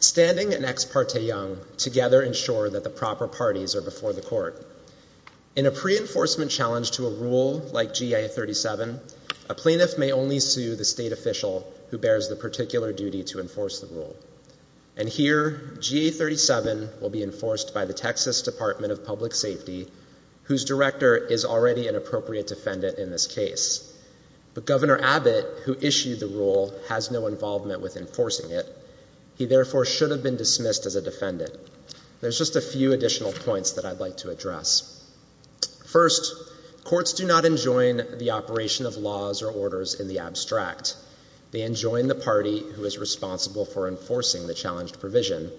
Standing and Ex parte Young together ensure that the proper parties are before the court. In a pre-enforcement challenge to a rule like GA-37, a plaintiff may only sue the state official who bears the particular duty to enforce the rule. And here, GA-37 will be enforced by the Texas Department of Public Safety, whose director is already an appropriate defendant in this case. But Governor Abbott, who issued the rule, has no involvement with enforcing it. He therefore should have been dismissed as a defendant. There's just a few additional points that I'd like to address. First, courts do not enjoin the operation of laws or orders in the abstract. They enjoin the party who is responsible for enforcing the challenged provision.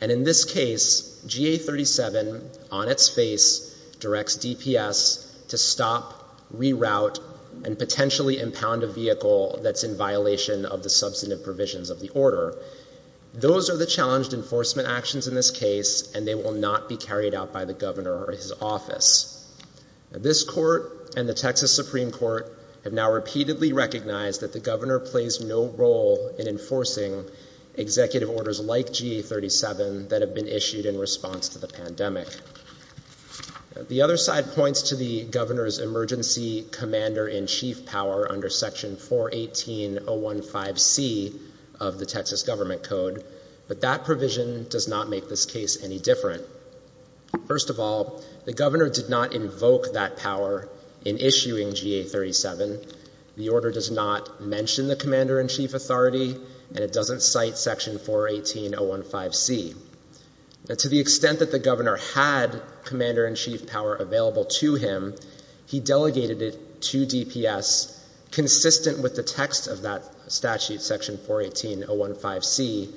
In this case, GA-37, on its face, directs DPS to stop, reroute, and potentially impound a vehicle that's in violation of the substantive provisions of the order. Those are the challenged enforcement actions in this case, and they will not be carried out by the governor or his office. This court and the Texas Supreme Court have now repeatedly recognized that the governor plays no role in enforcing executive orders like GA-37 that have been issued in response to the pandemic. The other side points to the governor's emergency commander-in-chief power under section 418.015c of the Texas Government Code, but that provision does not make this case any different. First of all, the governor did not invoke that power in issuing GA-37. The order does not mention the commander-in-chief authority, and it doesn't cite section 418.015c. To the extent that the governor had commander-in-chief power available to him, he delegated it to DPS consistent with the text of that statute, section 418.015c,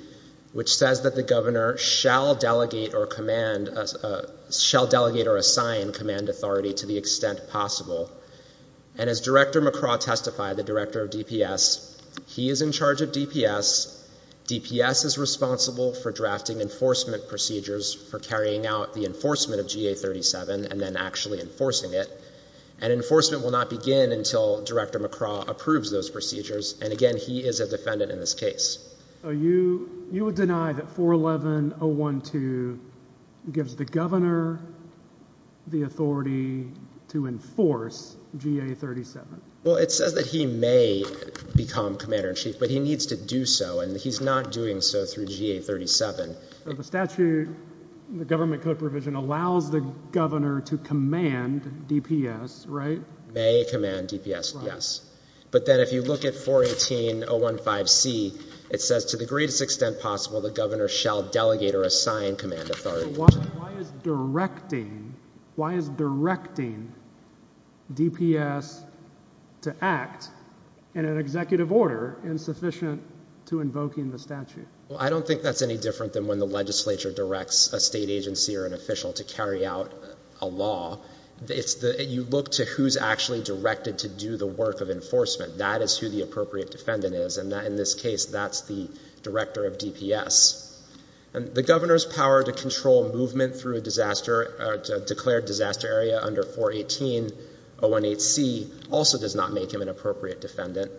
which says that the governor shall delegate or assign command authority to the extent possible, and as Director McCraw testified, the director of DPS, he is in charge of DPS. DPS is responsible for drafting enforcement procedures for carrying out the enforcement of GA-37 and then actually enforcing it, and enforcement will not begin until Director McCraw approves those procedures, and again, he is a defendant in this case. So you would deny that 411.012 gives the governor the authority to enforce GA-37? Well, it says that he may become commander-in-chief, but he needs to do so, and he's not doing so through GA-37. The statute, the government code provision allows the governor to command DPS, right? May command DPS, yes. But then if you look at 418.015c, it says, to the greatest extent possible, the governor shall delegate or assign command authority. Why is directing DPS to act in an executive order insufficient to invoking the statute? Well, I don't think that's any different than when the legislature directs a state agency or an official to carry out a law. You look to who's actually directed to do the work of enforcement. That is who the appropriate defendant is, and in this case, that's the director of DPS. And the governor's power to control movement through a declared disaster area under 418.018c also does not make him an appropriate defendant.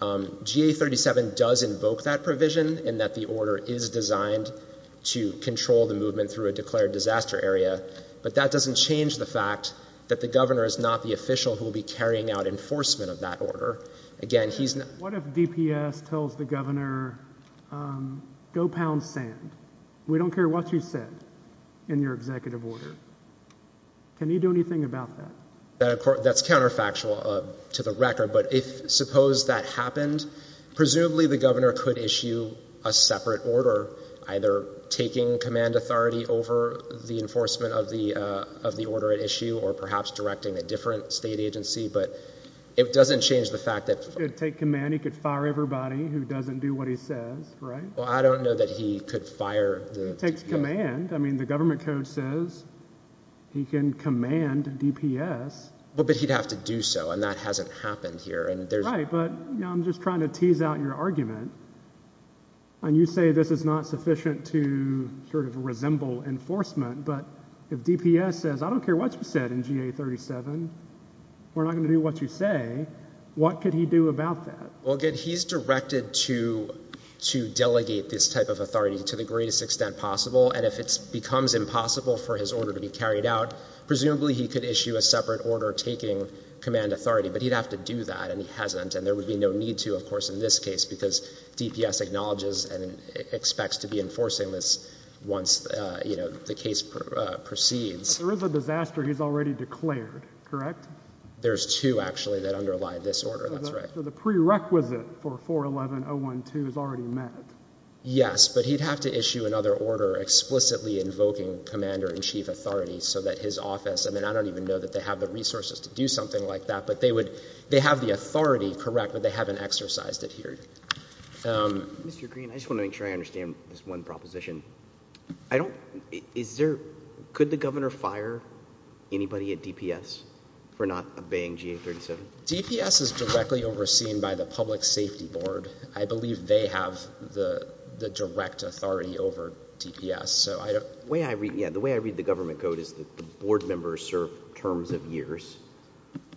GA-37 does invoke that provision in that the change the fact that the governor is not the official who will be carrying out enforcement of that order. Again, he's not... What if DPS tells the governor, go pound sand. We don't care what you said in your executive order. Can you do anything about that? That's counterfactual to the record, but if, suppose that happened, presumably the governor could issue a separate order either taking command authority over the enforcement of the order at issue or perhaps directing a different state agency, but it doesn't change the fact that... He could take command. He could fire everybody who doesn't do what he says, right? Well, I don't know that he could fire... He takes command. I mean, the government code says he can command DPS. Well, but he'd have to do so, and that hasn't happened here, and there's... Right, but I'm just trying to tease out your not sufficient to sort of resemble enforcement, but if DPS says, I don't care what you said in GA-37, we're not going to do what you say, what could he do about that? Well, again, he's directed to delegate this type of authority to the greatest extent possible, and if it becomes impossible for his order to be carried out, presumably he could issue a separate order taking command authority, but he'd have to do that, and he hasn't, and there would be no need to, of course, in this case because DPS acknowledges and expects to be enforcing this once the case proceeds. There is a disaster he's already declared, correct? There's two, actually, that underlie this order, that's right. So the prerequisite for 411.012 is already met? Yes, but he'd have to issue another order explicitly invoking commander-in-chief authority so that his office... I mean, I don't even know that they have the resources to do something like that, but they would... They have authority, correct, but they haven't exercised it here. Mr. Green, I just want to make sure I understand this one proposition. I don't... Is there... Could the governor fire anybody at DPS for not obeying GA-37? DPS is directly overseen by the Public Safety Board. I believe they have the direct authority over DPS, so I don't... The way I read the government code is that the board members serve terms of years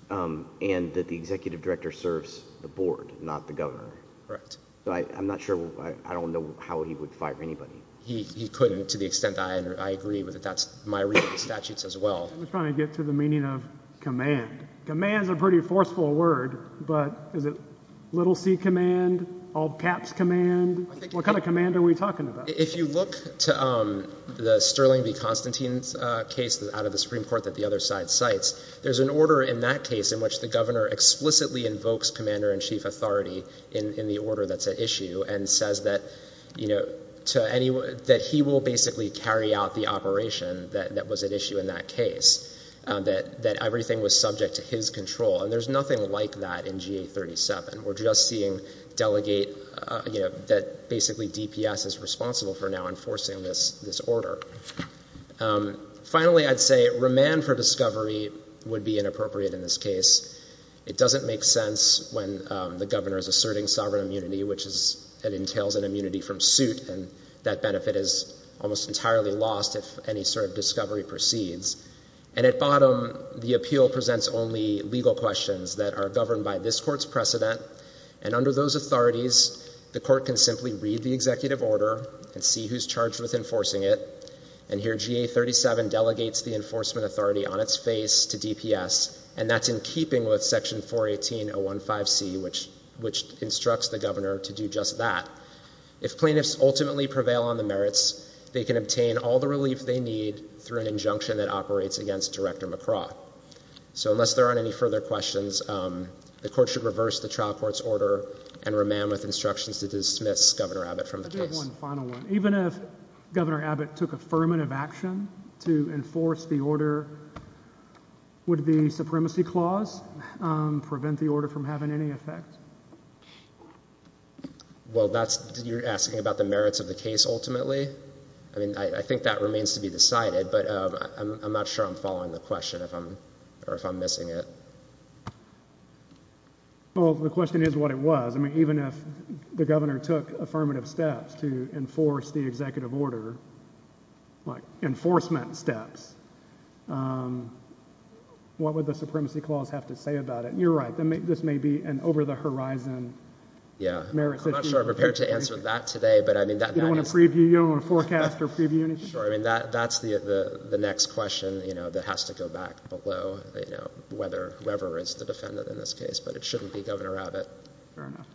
and that the executive director serves the board, not the governor. Correct. I'm not sure... I don't know how he would fire anybody. He couldn't, to the extent that I agree with it. That's my reading of the statutes as well. I'm trying to get to the meaning of command. Command is a pretty forceful word, but is it little c command, all caps command? What kind of command are we talking about? If you look to the Sterling v. Constantine's case out of the Supreme Court that the other side cites, there's an order in that case in which the governor explicitly invokes commander-in-chief authority in the order that's at issue and says that he will basically carry out the operation that was at issue in that case, that everything was subject to his control. There's nothing like that in GA-37. We're just seeing delegate... basically DPS is responsible for now enforcing this order. Finally, I'd say remand for discovery would be inappropriate in this case. It doesn't make sense when the governor is asserting sovereign immunity, which entails an immunity from suit and that benefit is almost entirely lost if any sort of discovery proceeds. At bottom, the appeal presents only legal questions that are governed by this court's precedent, and under those authorities, the court can simply read the executive order and see who's charged with enforcing it, and here GA-37 delegates the enforcement authority on its face to DPS, and that's in keeping with section 418.015c, which instructs the governor to do just that. If plaintiffs ultimately prevail on the merits, they can obtain all the relief they need through an injunction that operates against Director McCraw. So unless there aren't any further questions, the court should reverse the trial court's order and remand with instructions to dismiss Governor Abbott from the case. I do have one final one. Even if Governor Abbott took affirmative action to enforce the order, would the supremacy clause prevent the order from having any effect? Well, that's... you're asking about the merits of the case ultimately? I mean, I think that or if I'm missing it. Well, the question is what it was. I mean, even if the governor took affirmative steps to enforce the executive order, like enforcement steps, what would the supremacy clause have to say about it? You're right, this may be an over-the-horizon merits issue. I'm not sure I'm prepared to answer that today, but I mean... You don't want to forecast or preview anything? I mean, that's the next question, you know, that has to go back below, you know, whether whoever is the defendant in this case, but it shouldn't be Governor Abbott. Fair enough.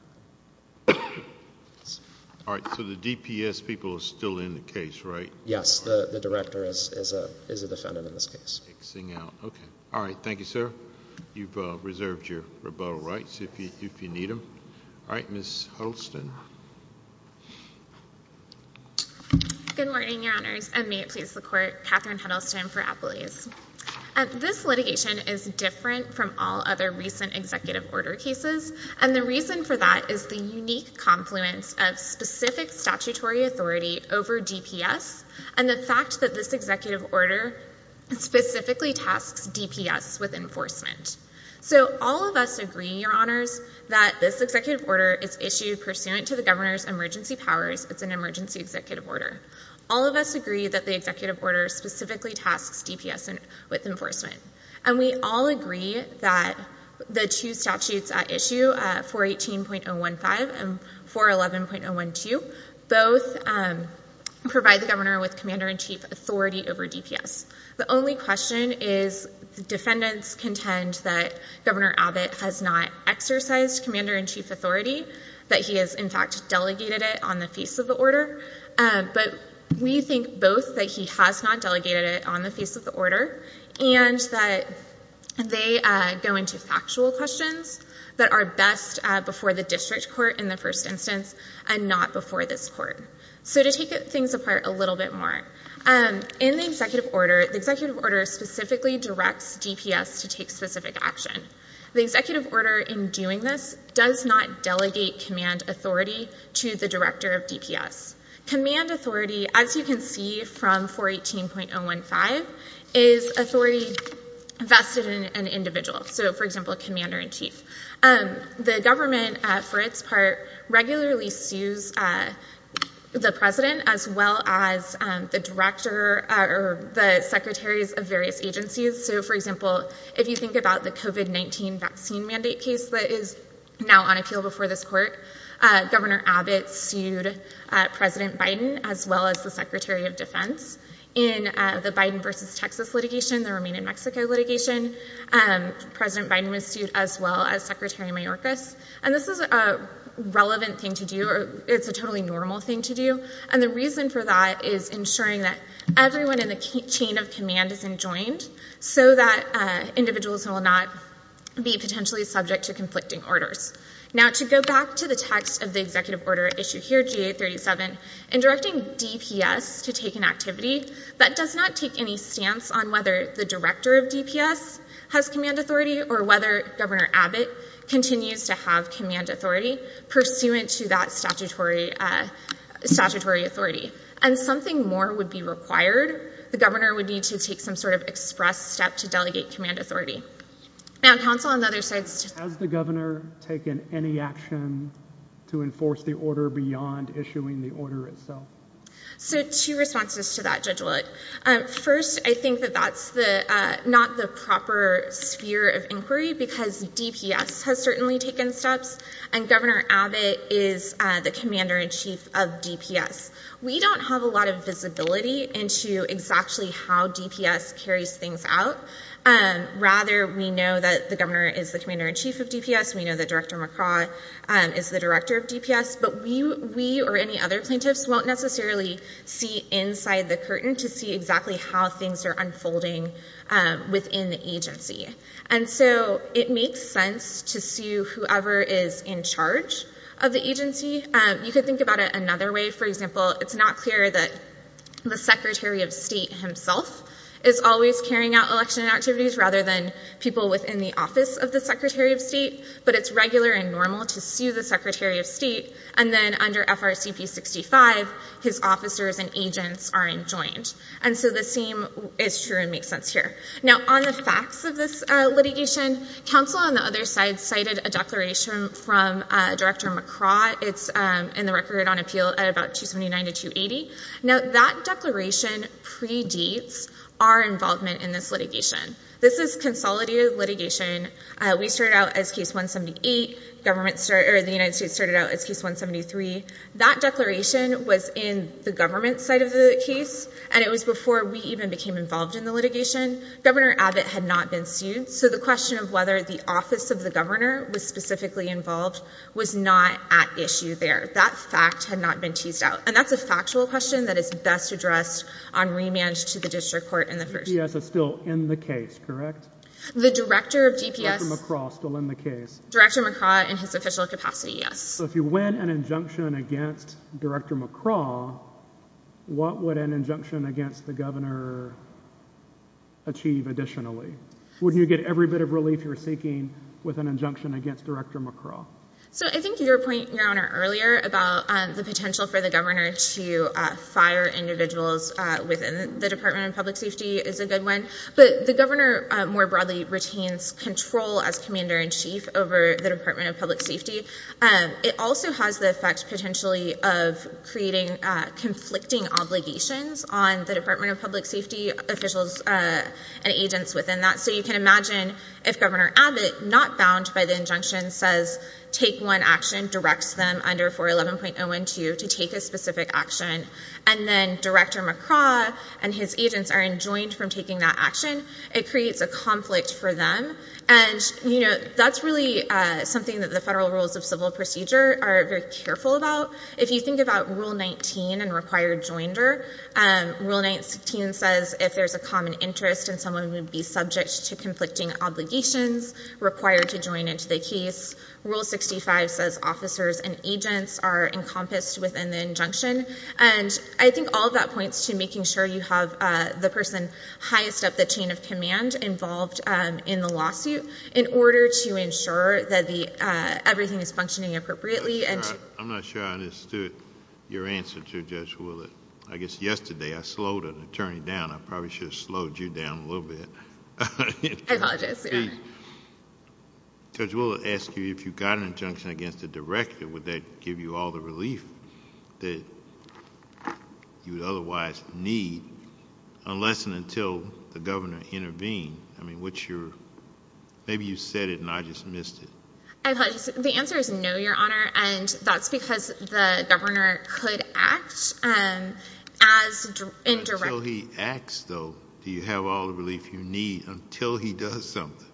All right, so the DPS people are still in the case, right? Yes, the Director is a defendant in this case. Fixing out, okay. All right, thank you, sir. You've reserved your rebuttal rights if you need them. All right, Ms. Huddleston. Good morning, Your Honors, and may it please the Court, Katherine Huddleston for Appalachians. This litigation is different from all other recent executive order cases, and the reason for that is the unique confluence of specific statutory authority over DPS, and the fact that this executive order specifically tasks DPS with enforcement. So all of us agree, Your Honors, that this executive order is issued pursuant to the Governor's emergency powers. It's an emergency executive order. All of us agree that the executive order specifically tasks DPS with enforcement, and we all agree that the two statutes at issue, 418.015 and 411.012, both provide the Governor with commander-in-chief authority over DPS. The only question is defendants contend that Governor Abbott has not exercised commander-in-chief authority, that he has, in fact, delegated it on the face of the order, but we think both that he has not delegated it on the face of the order and that they go into factual questions that are best before the district court in the first instance and not before this court. So to take things apart a little bit more, in the executive order, the executive order specifically directs DPS to take specific action. The executive order in doing this does not delegate command authority to the director of DPS. Command authority, as you can see from 418.015, is authority vested in an individual, so for example, commander-in-chief. The government, for its part, regularly sues the president as well as the director or the secretaries of various agencies. So for example, if you think about the COVID-19 vaccine mandate case that is now on appeal before this court, Governor Abbott sued President Biden as well as the Secretary of Defense. In the Biden versus Texas litigation, the Romanian-Mexico litigation, President Biden was sued as well as Secretary Mayorkas, and this is a relevant thing to do. It's a totally normal thing to do, and the reason for that is ensuring that everyone in the chain of command is enjoined so that individuals will not be potentially subject to conflicting orders. Now to go back to the text of the executive order issue here, GA-37, in directing DPS to take an authority, or whether Governor Abbott continues to have command authority pursuant to that statutory authority, and something more would be required. The governor would need to take some sort of express step to delegate command authority. Now counsel, on the other side... Has the governor taken any action to enforce the order beyond issuing the order itself? So two responses to that, Judge Willett. First, I think that that's not the proper sphere of inquiry because DPS has certainly taken steps, and Governor Abbott is the commander-in-chief of DPS. We don't have a lot of visibility into exactly how DPS carries things out. Rather, we know that the governor is the commander-in-chief of DPS. We know that Director McCraw is the director of DPS, but we or any other plaintiffs won't necessarily see inside the curtain to see exactly how things are unfolding within the agency. And so it makes sense to sue whoever is in charge of the agency. You could think about it another way. For example, it's not clear that the Secretary of State himself is always carrying out election activities rather than people within the office of the Secretary of State, but it's regular and normal to sue the Secretary of State. And then under FRCP 65, his officers and agents are enjoined. And so the same is true and makes sense here. Now on the facts of this litigation, counsel on the other side cited a declaration from Director McCraw. It's in the record on appeal at about 279 to 280. Now that declaration predates our involvement in this litigation. This is consolidated litigation. We started out as case 178. The United States started out as case 173. That declaration was in the government's side of the case, and it was before we even became involved in the litigation. Governor Abbott had not been sued, so the question of whether the office of the governor was specifically involved was not at issue there. That fact had not been questioned. That is best addressed on remand to the district court in the first place. DPS is still in the case, correct? The Director of DPS... Director McCraw is still in the case. Director McCraw in his official capacity, yes. So if you win an injunction against Director McCraw, what would an injunction against the governor achieve additionally? Wouldn't you get every bit of relief you're seeking with an injunction against Director McCraw? So I think your point, Your Honor, earlier about the potential for the governor to fire individuals within the Department of Public Safety is a good one. But the governor more broadly retains control as commander-in-chief over the Department of Public Safety. It also has the effect potentially of creating conflicting obligations on the Department of Public Safety officials and agents within that. So you can imagine if Governor Abbott, not bound by the take one action, directs them under 411.012 to take a specific action, and then Director McCraw and his agents are enjoined from taking that action, it creates a conflict for them. And that's really something that the federal rules of civil procedure are very careful about. If you think about Rule 19 and required joinder, Rule 19 says if there's a common interest and someone would be subject to conflicting obligations required to join into the case, Rule 65 says officers and agents are encompassed within the injunction. And I think all of that points to making sure you have the person highest up the chain of command involved in the lawsuit in order to ensure that everything is functioning appropriately. I'm not sure I understood your answer to Judge Willett. I guess yesterday I slowed an attorney down. I probably should have slowed you down a little bit. I apologize, Your Honor. Judge Willett asked you if you got an injunction against the Director, would that give you all the relief that you would otherwise need unless and until the Governor intervened? I mean, what's your, maybe you said it and I just missed it. I apologize. The answer is no, Your Honor, and that's because the Governor could act as Director. Until he acts, though, do you have all the relief you need until he does something?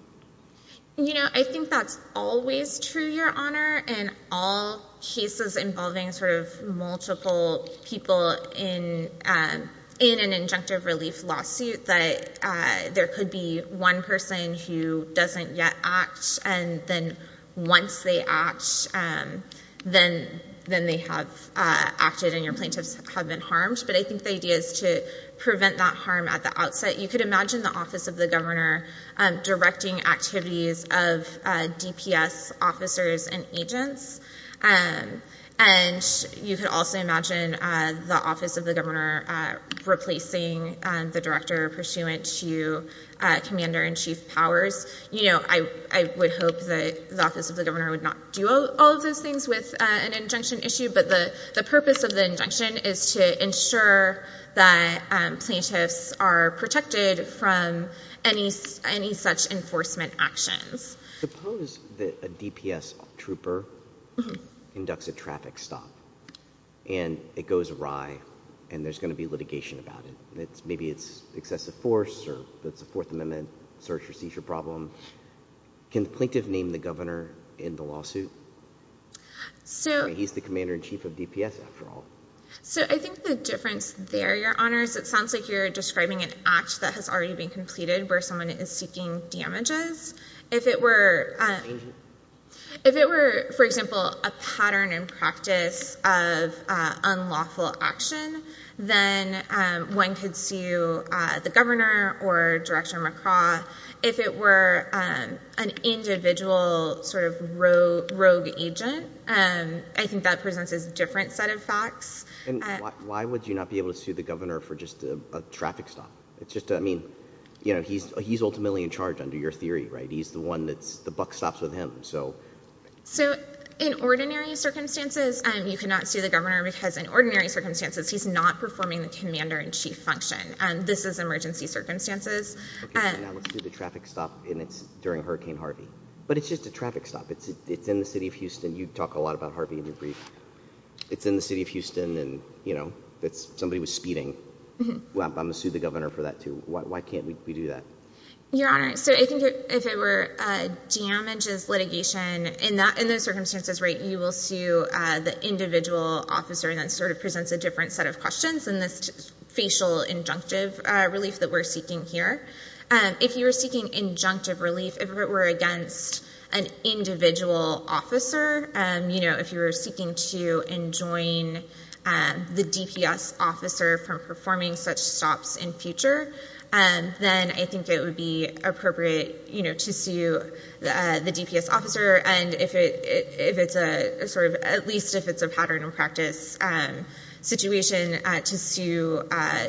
You know, I think that's always true, Your Honor, in all cases involving sort of multiple people in an injunctive relief lawsuit that there could be one person who doesn't yet act and then once they act, then they have acted and your plaintiffs have been harmed. But I think the idea is to prevent that harm at the outset. You could imagine the Office of the Governor replacing the Director pursuant to Commander-in-Chief Powers. You know, I would hope that the Office of the Governor would not do all of those things with an injunction issue, but the purpose of the injunction is to ensure that plaintiffs are protected from any such enforcement actions. Suppose that a DPS trooper inducts a traffic stop and it goes awry and there's going to be litigation about it. Maybe it's excessive force or it's a Fourth Amendment search or seizure problem. Can the plaintiff name the Governor in the lawsuit? He's the Commander-in-Chief of DPS, after all. So I think the difference there, Your Honors, it sounds like you're describing an act that has already been completed where someone is seeking damages. If it were, for example, a pattern and practice of unlawful action, then one could sue the Governor or Director McCraw. If it were an individual sort of rogue agent, I think that presents a different set of facts. Why would you not be able to sue the Governor for just a traffic stop? I mean, he's ultimately in charge under your theory, right? He's the one that the buck stops with him. So in ordinary circumstances, you cannot sue the Governor because in ordinary circumstances, he's not performing the Commander-in-Chief function. This is emergency circumstances. Okay, so now let's do the traffic stop and it's during Hurricane Harvey. But it's just a traffic stop. It's in the city of Houston. You talk a lot about Harvey in your brief. It's in the city of Houston and somebody was speeding. Well, I'm going to sue the Governor for that too. Why can't we do that? Your Honor, so I think if it were damages litigation, in those circumstances, right, you will sue the individual officer. And that sort of presents a different set of questions in this facial injunctive relief that we're seeking here. If you were seeking injunctive relief, if it were against an individual officer, if you were seeking to enjoin the DPS officer from performing such stops in future, then I think it would be appropriate to sue the DPS officer. And if it's a sort of, at least if it's a pattern of practice situation to sue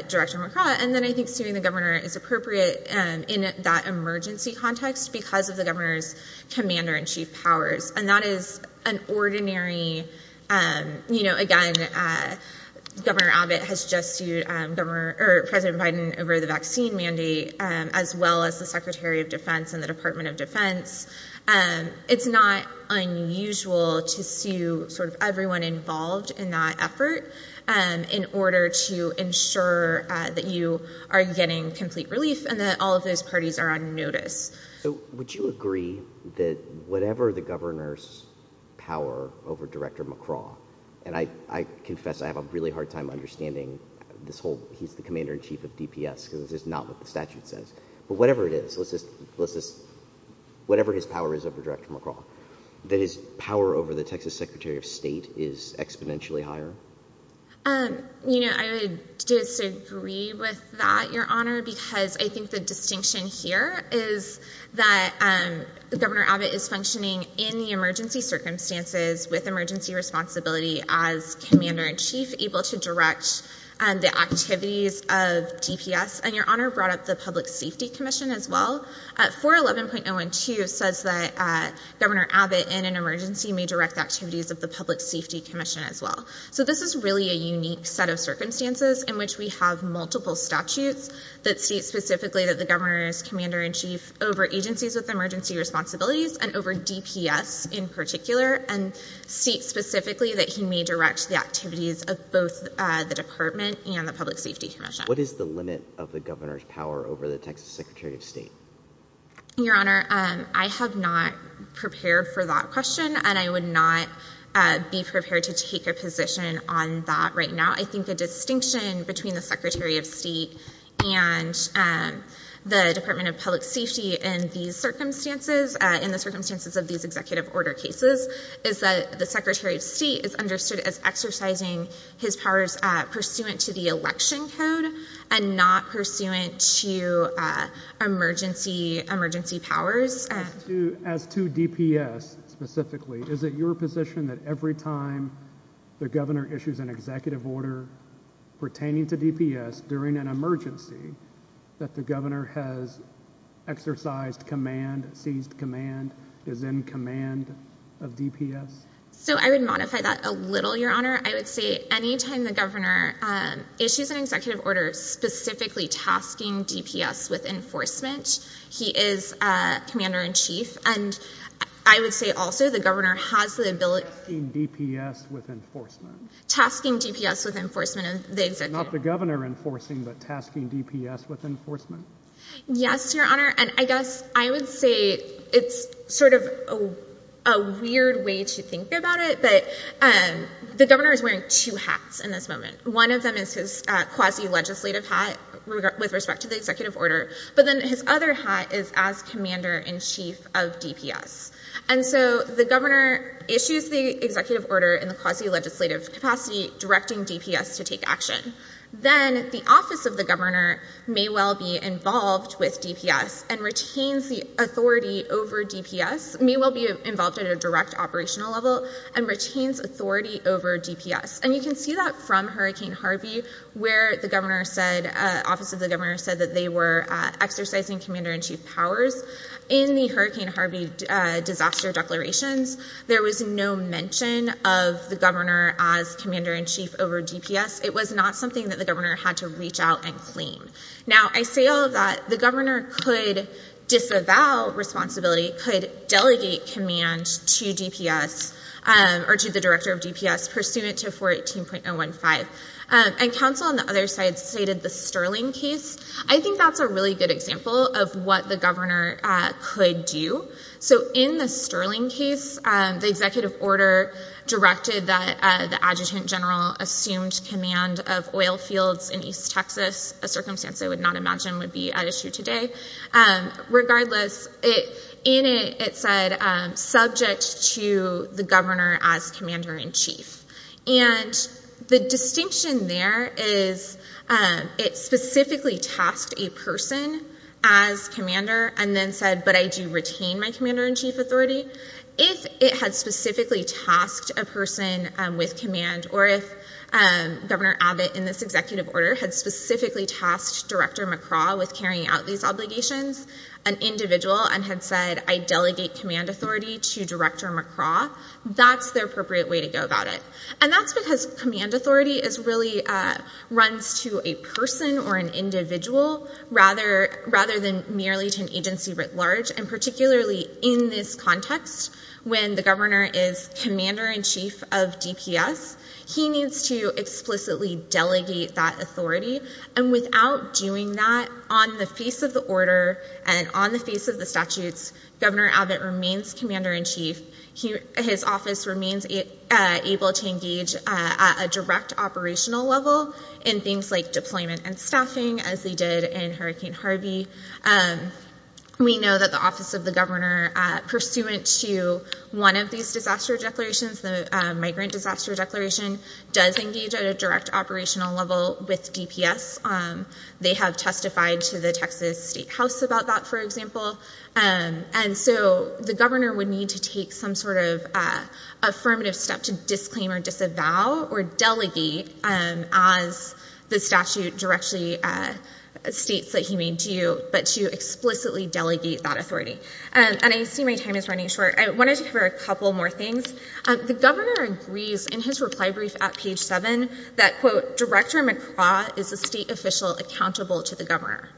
Director McCraw. And then I think suing the Governor is appropriate in that emergency context because of the Governor's Commander-in- an ordinary, you know, again, Governor Abbott has just sued President Biden over the vaccine mandate, as well as the Secretary of Defense and the Department of Defense. It's not unusual to sue sort of everyone involved in that effort in order to ensure that you are getting complete relief and that all of those parties are on notice. So would you agree that whatever the Governor's power over Director McCraw, and I confess I have a really hard time understanding this whole, he's the Commander-in-Chief of DPS, because it's just not what the statute says, but whatever it is, let's just, let's just, whatever his power is over Director McCraw, that his power over the Texas Secretary of State is exponentially higher? You know, I would disagree with that, Your Honor, because I think the distinction here is that Governor Abbott is functioning in the emergency circumstances with emergency responsibility as Commander-in-Chief, able to direct the activities of DPS. And Your Honor brought up the Public Safety Commission as well. 411.012 says that Governor Abbott in an emergency may direct the activities of the Public Safety Commission as well. So this is really a unique set of circumstances in which we have multiple statutes that state specifically that the Governor is Commander-in-Chief over agencies with emergency responsibilities, and over DPS in particular, and states specifically that he may direct the activities of both the Department and the Public Safety Commission. What is the limit of the Governor's power over the Texas Secretary of State? Your Honor, I have not prepared for that question, and I would not be prepared to take a position on that right now. I think the distinction between the Secretary of Safety in these circumstances, in the circumstances of these executive order cases, is that the Secretary of State is understood as exercising his powers pursuant to the election code and not pursuant to emergency powers. As to DPS specifically, is it your position that every time the Governor issues an executive order pertaining to DPS during an emergency that the Governor has exercised command, seized command, is in command of DPS? So I would modify that a little, Your Honor. I would say any time the Governor issues an executive order specifically tasking DPS with enforcement, he is Commander-in-Chief, and I would say also the Governor has the ability... Tasking DPS with enforcement. Tasking DPS with enforcement of the executive order. Not the Governor enforcing, but I guess I would say it's sort of a weird way to think about it, but the Governor is wearing two hats in this moment. One of them is his quasi-legislative hat with respect to the executive order, but then his other hat is as Commander-in-Chief of DPS. And so the Governor issues the executive order in the quasi-legislative capacity directing DPS to take action. Then the office of the Governor may well be involved with DPS and retains the authority over DPS, may well be involved at a direct operational level, and retains authority over DPS. And you can see that from Hurricane Harvey where the Governor said... Office of the Governor said that they were exercising Commander-in-Chief powers. In the Hurricane Harvey disaster declarations, there was no mention of the Governor as Commander-in-Chief over DPS. It was not something that the Governor had to reach out and claim. Now I say all of that. The Governor could disavow responsibility, could delegate command to DPS or to the Director of DPS pursuant to 418.015. And counsel on the other side stated the Sterling case. I think that's a really good example of what the Governor could do. So in the Sterling case, the executive order directed that the Adjutant General assumed command of oil fields in East Texas, a circumstance I would not imagine would be at issue today. Regardless, in it, it said subject to the Governor as Commander-in-Chief. And the distinction there is it specifically tasked a person as Commander and then said, but I do retain my Commander-in-Chief authority. If it had specifically tasked a person with command or if Governor Abbott in this executive order had specifically tasked Director McCraw with carrying out these obligations, an individual, and had said, I delegate command authority to Director McCraw, that's the appropriate way to go about it. And that's because command authority really runs to a person or an individual rather than merely to an agency writ large. And particularly in this context, when the Governor is Commander-in-Chief of DPS, he needs to explicitly delegate that authority. And without doing that, on the face of the order and on the face of the statutes, Governor Abbott remains able to engage at a direct operational level in things like deployment and staffing, as they did in Hurricane Harvey. We know that the Office of the Governor, pursuant to one of these disaster declarations, the Migrant Disaster Declaration, does engage at a direct operational level with DPS. They have testified to the Texas State House about that, for example. And so the Governor would need to take some sort of affirmative step to disclaim or disavow or delegate as the statute directly states that he may do, but to explicitly delegate that authority. And I see my time is running short. I wanted to cover a couple more things. The Governor agrees in his reply brief at page seven that, quote, Director McCraw is a state official accountable to the Governor.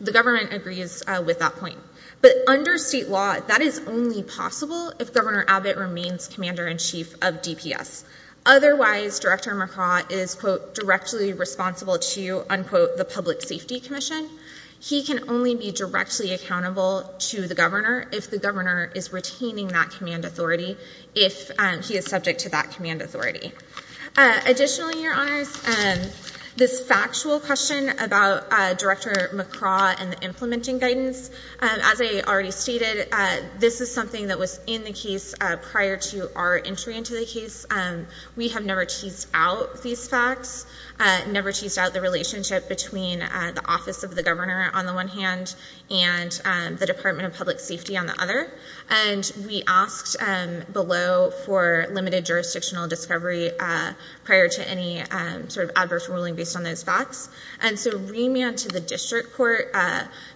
The government agrees with that point. But under state law, that is only possible if Governor Abbott remains Commander-in-Chief of DPS. Otherwise, Director McCraw is, quote, directly responsible to, unquote, the Public Safety Commission. He can only be directly accountable to the Governor if the Governor is retaining that command authority, if he is subject to that command authority. Additionally, Your Honors, this factual question about Director McCraw and the implementing guidance, as I already stated, this is something that was in the case prior to our entry into the case. We have never teased out these facts, never teased out the relationship between the office of the Governor, on the one hand, and the Department of Public Safety's jurisdictional discovery prior to any sort of adverse ruling based on those facts. And so remand to the district court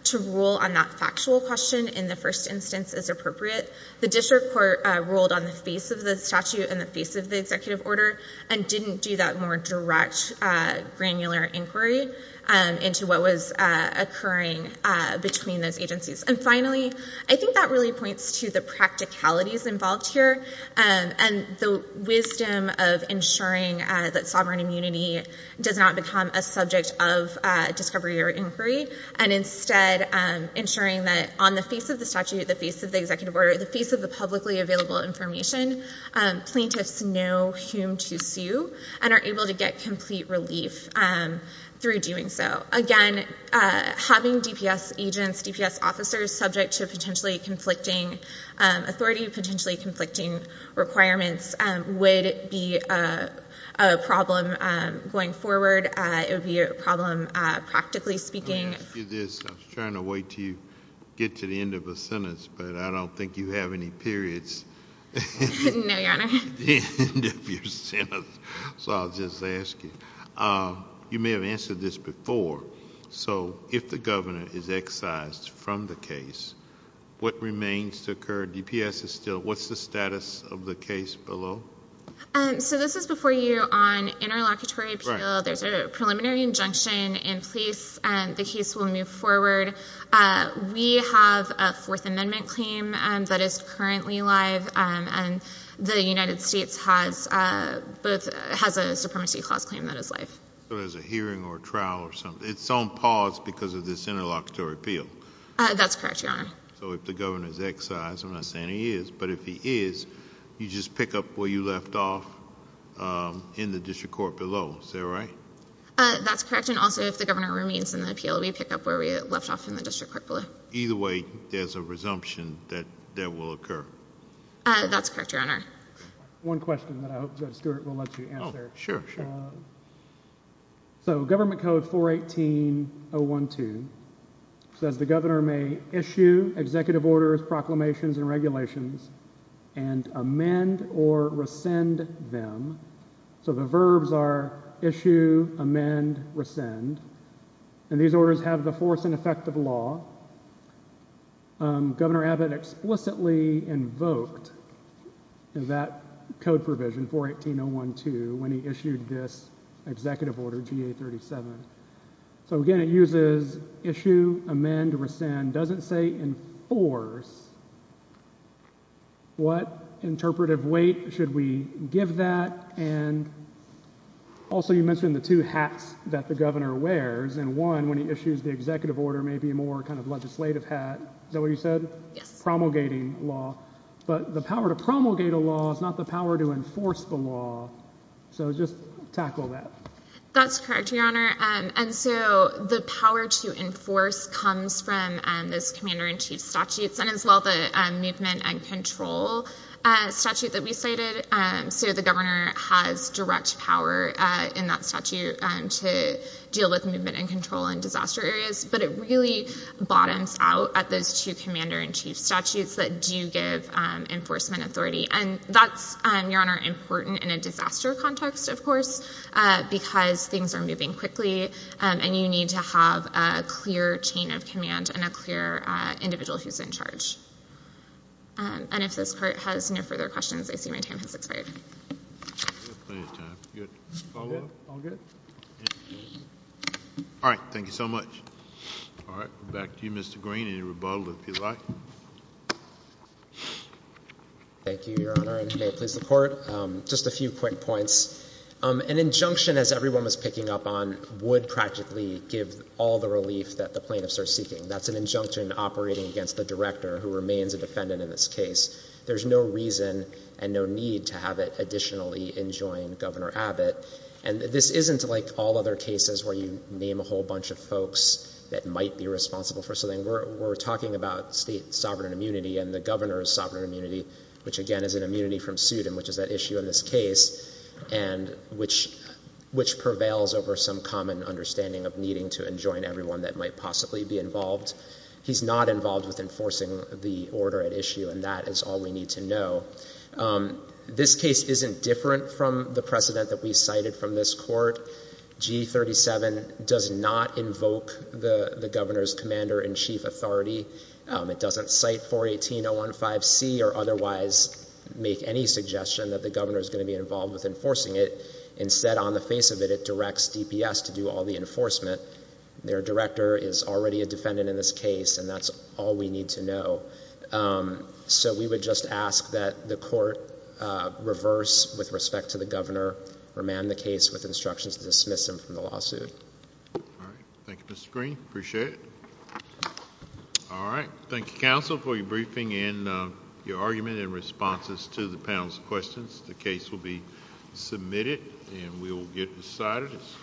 to rule on that factual question in the first instance is appropriate. The district court ruled on the face of the statute and the face of the executive order and didn't do that more direct granular inquiry into what was occurring between those agencies. And finally, I think that really points to the practicalities involved here and the wisdom of ensuring that sovereign immunity does not become a subject of discovery or inquiry and instead ensuring that on the face of the statute, the face of the executive order, the face of the publicly available information, plaintiffs know whom to sue and are able to get complete relief through doing so. Again, having DPS agents, DPS officers subject to potentially conflicting authority, potentially conflicting requirements would be a problem going forward. It would be a problem practically speaking. I was trying to wait to get to the end of the sentence, but I don't think you have any periods at the end of your sentence. So I'll just ask you. You may have answered this before. So if the governor is excised from the case, what remains to occur, DPS is still, what's the status of the case below? So this is before you on interlocutory appeal. There's a preliminary injunction in place and the case will move forward. We have a fourth amendment claim that is currently live and the United States has a supremacy clause claim that is live. So there's a hearing or a trial or something. It's on pause because of this interlocutory appeal. That's correct, Your Honor. So if the governor is excised, I'm not saying he is, but if he is, you just pick up where you left off in the district court below. Is that right? That's correct and also if the governor remains in the appeal, we pick up where we left off in the that will occur. That's correct, Your Honor. One question that I hope Judge Stewart will let you answer. Sure, sure. So government code 418-012 says the governor may issue executive orders, proclamations, and regulations and amend or rescind them. So the verbs are issue, amend, rescind and these orders have the force and effect of law. Governor Abbott explicitly invoked that code provision 418-012 when he issued this executive order GA-37. So again, it uses issue, amend, rescind. It doesn't say enforce. What interpretive weight should we give that? And also you mentioned the two hats that the governor wears and one when he issues the executive order may be more kind of legislative hat. Is that what you said? Yes. Promulgating law, but the power to promulgate a law is not the power to enforce the law. So just tackle that. That's correct, Your Honor. And so the power to enforce comes from those commander-in-chief statutes and as well the movement and control statute that we cited. So the governor has direct power in that statute to deal with movement and control in disaster areas, but it really bottoms out at those two commander-in-chief statutes that do give enforcement authority. And that's, Your Honor, important in a disaster context, of course, because things are moving quickly and you need to have a clear chain of command and a clear individual who's in charge. And if this court has no further questions, I see my time has expired. All right. Thank you so much. All right. Back to you, Mr. Green. Any rebuttal, if you'd like. Thank you, Your Honor, and may it please the court. Just a few quick points. An injunction, as everyone was picking up on, would practically give all the relief that the plaintiffs are seeking. That's an injunction operating against the director who remains a defendant in this case. There's no reason and no need to have it additionally enjoin Governor Abbott. And this isn't like all other cases where you name a whole bunch of folks that might be responsible for something. We're talking about state sovereign immunity and the governor's sovereign immunity, which, again, is an immunity from suit, and which is at issue in this case, and which prevails over some common understanding of needing to enjoin everyone that might possibly be involved. He's not involved with enforcing the order at issue, and that is all we need to know. This case isn't different from the precedent that we cited from this court. G37 does not invoke the governor's commander-in-chief authority. It doesn't cite 418.015c or otherwise make any suggestion that the governor is going to be involved with enforcing it. Instead, on the face of it, it directs DPS to do all the enforcement. Their director is already a defendant in this case, and that's all we need to know. So we would just ask that the court reverse with respect to the governor, remand the case with instructions to dismiss him from the lawsuit. All right. Thank you, Mr. Green. Appreciate it. All right. Thank you, counsel, for your briefing and your argument and responses to the panel's questions. The case will be submitted, and we will get decided as quickly as possible.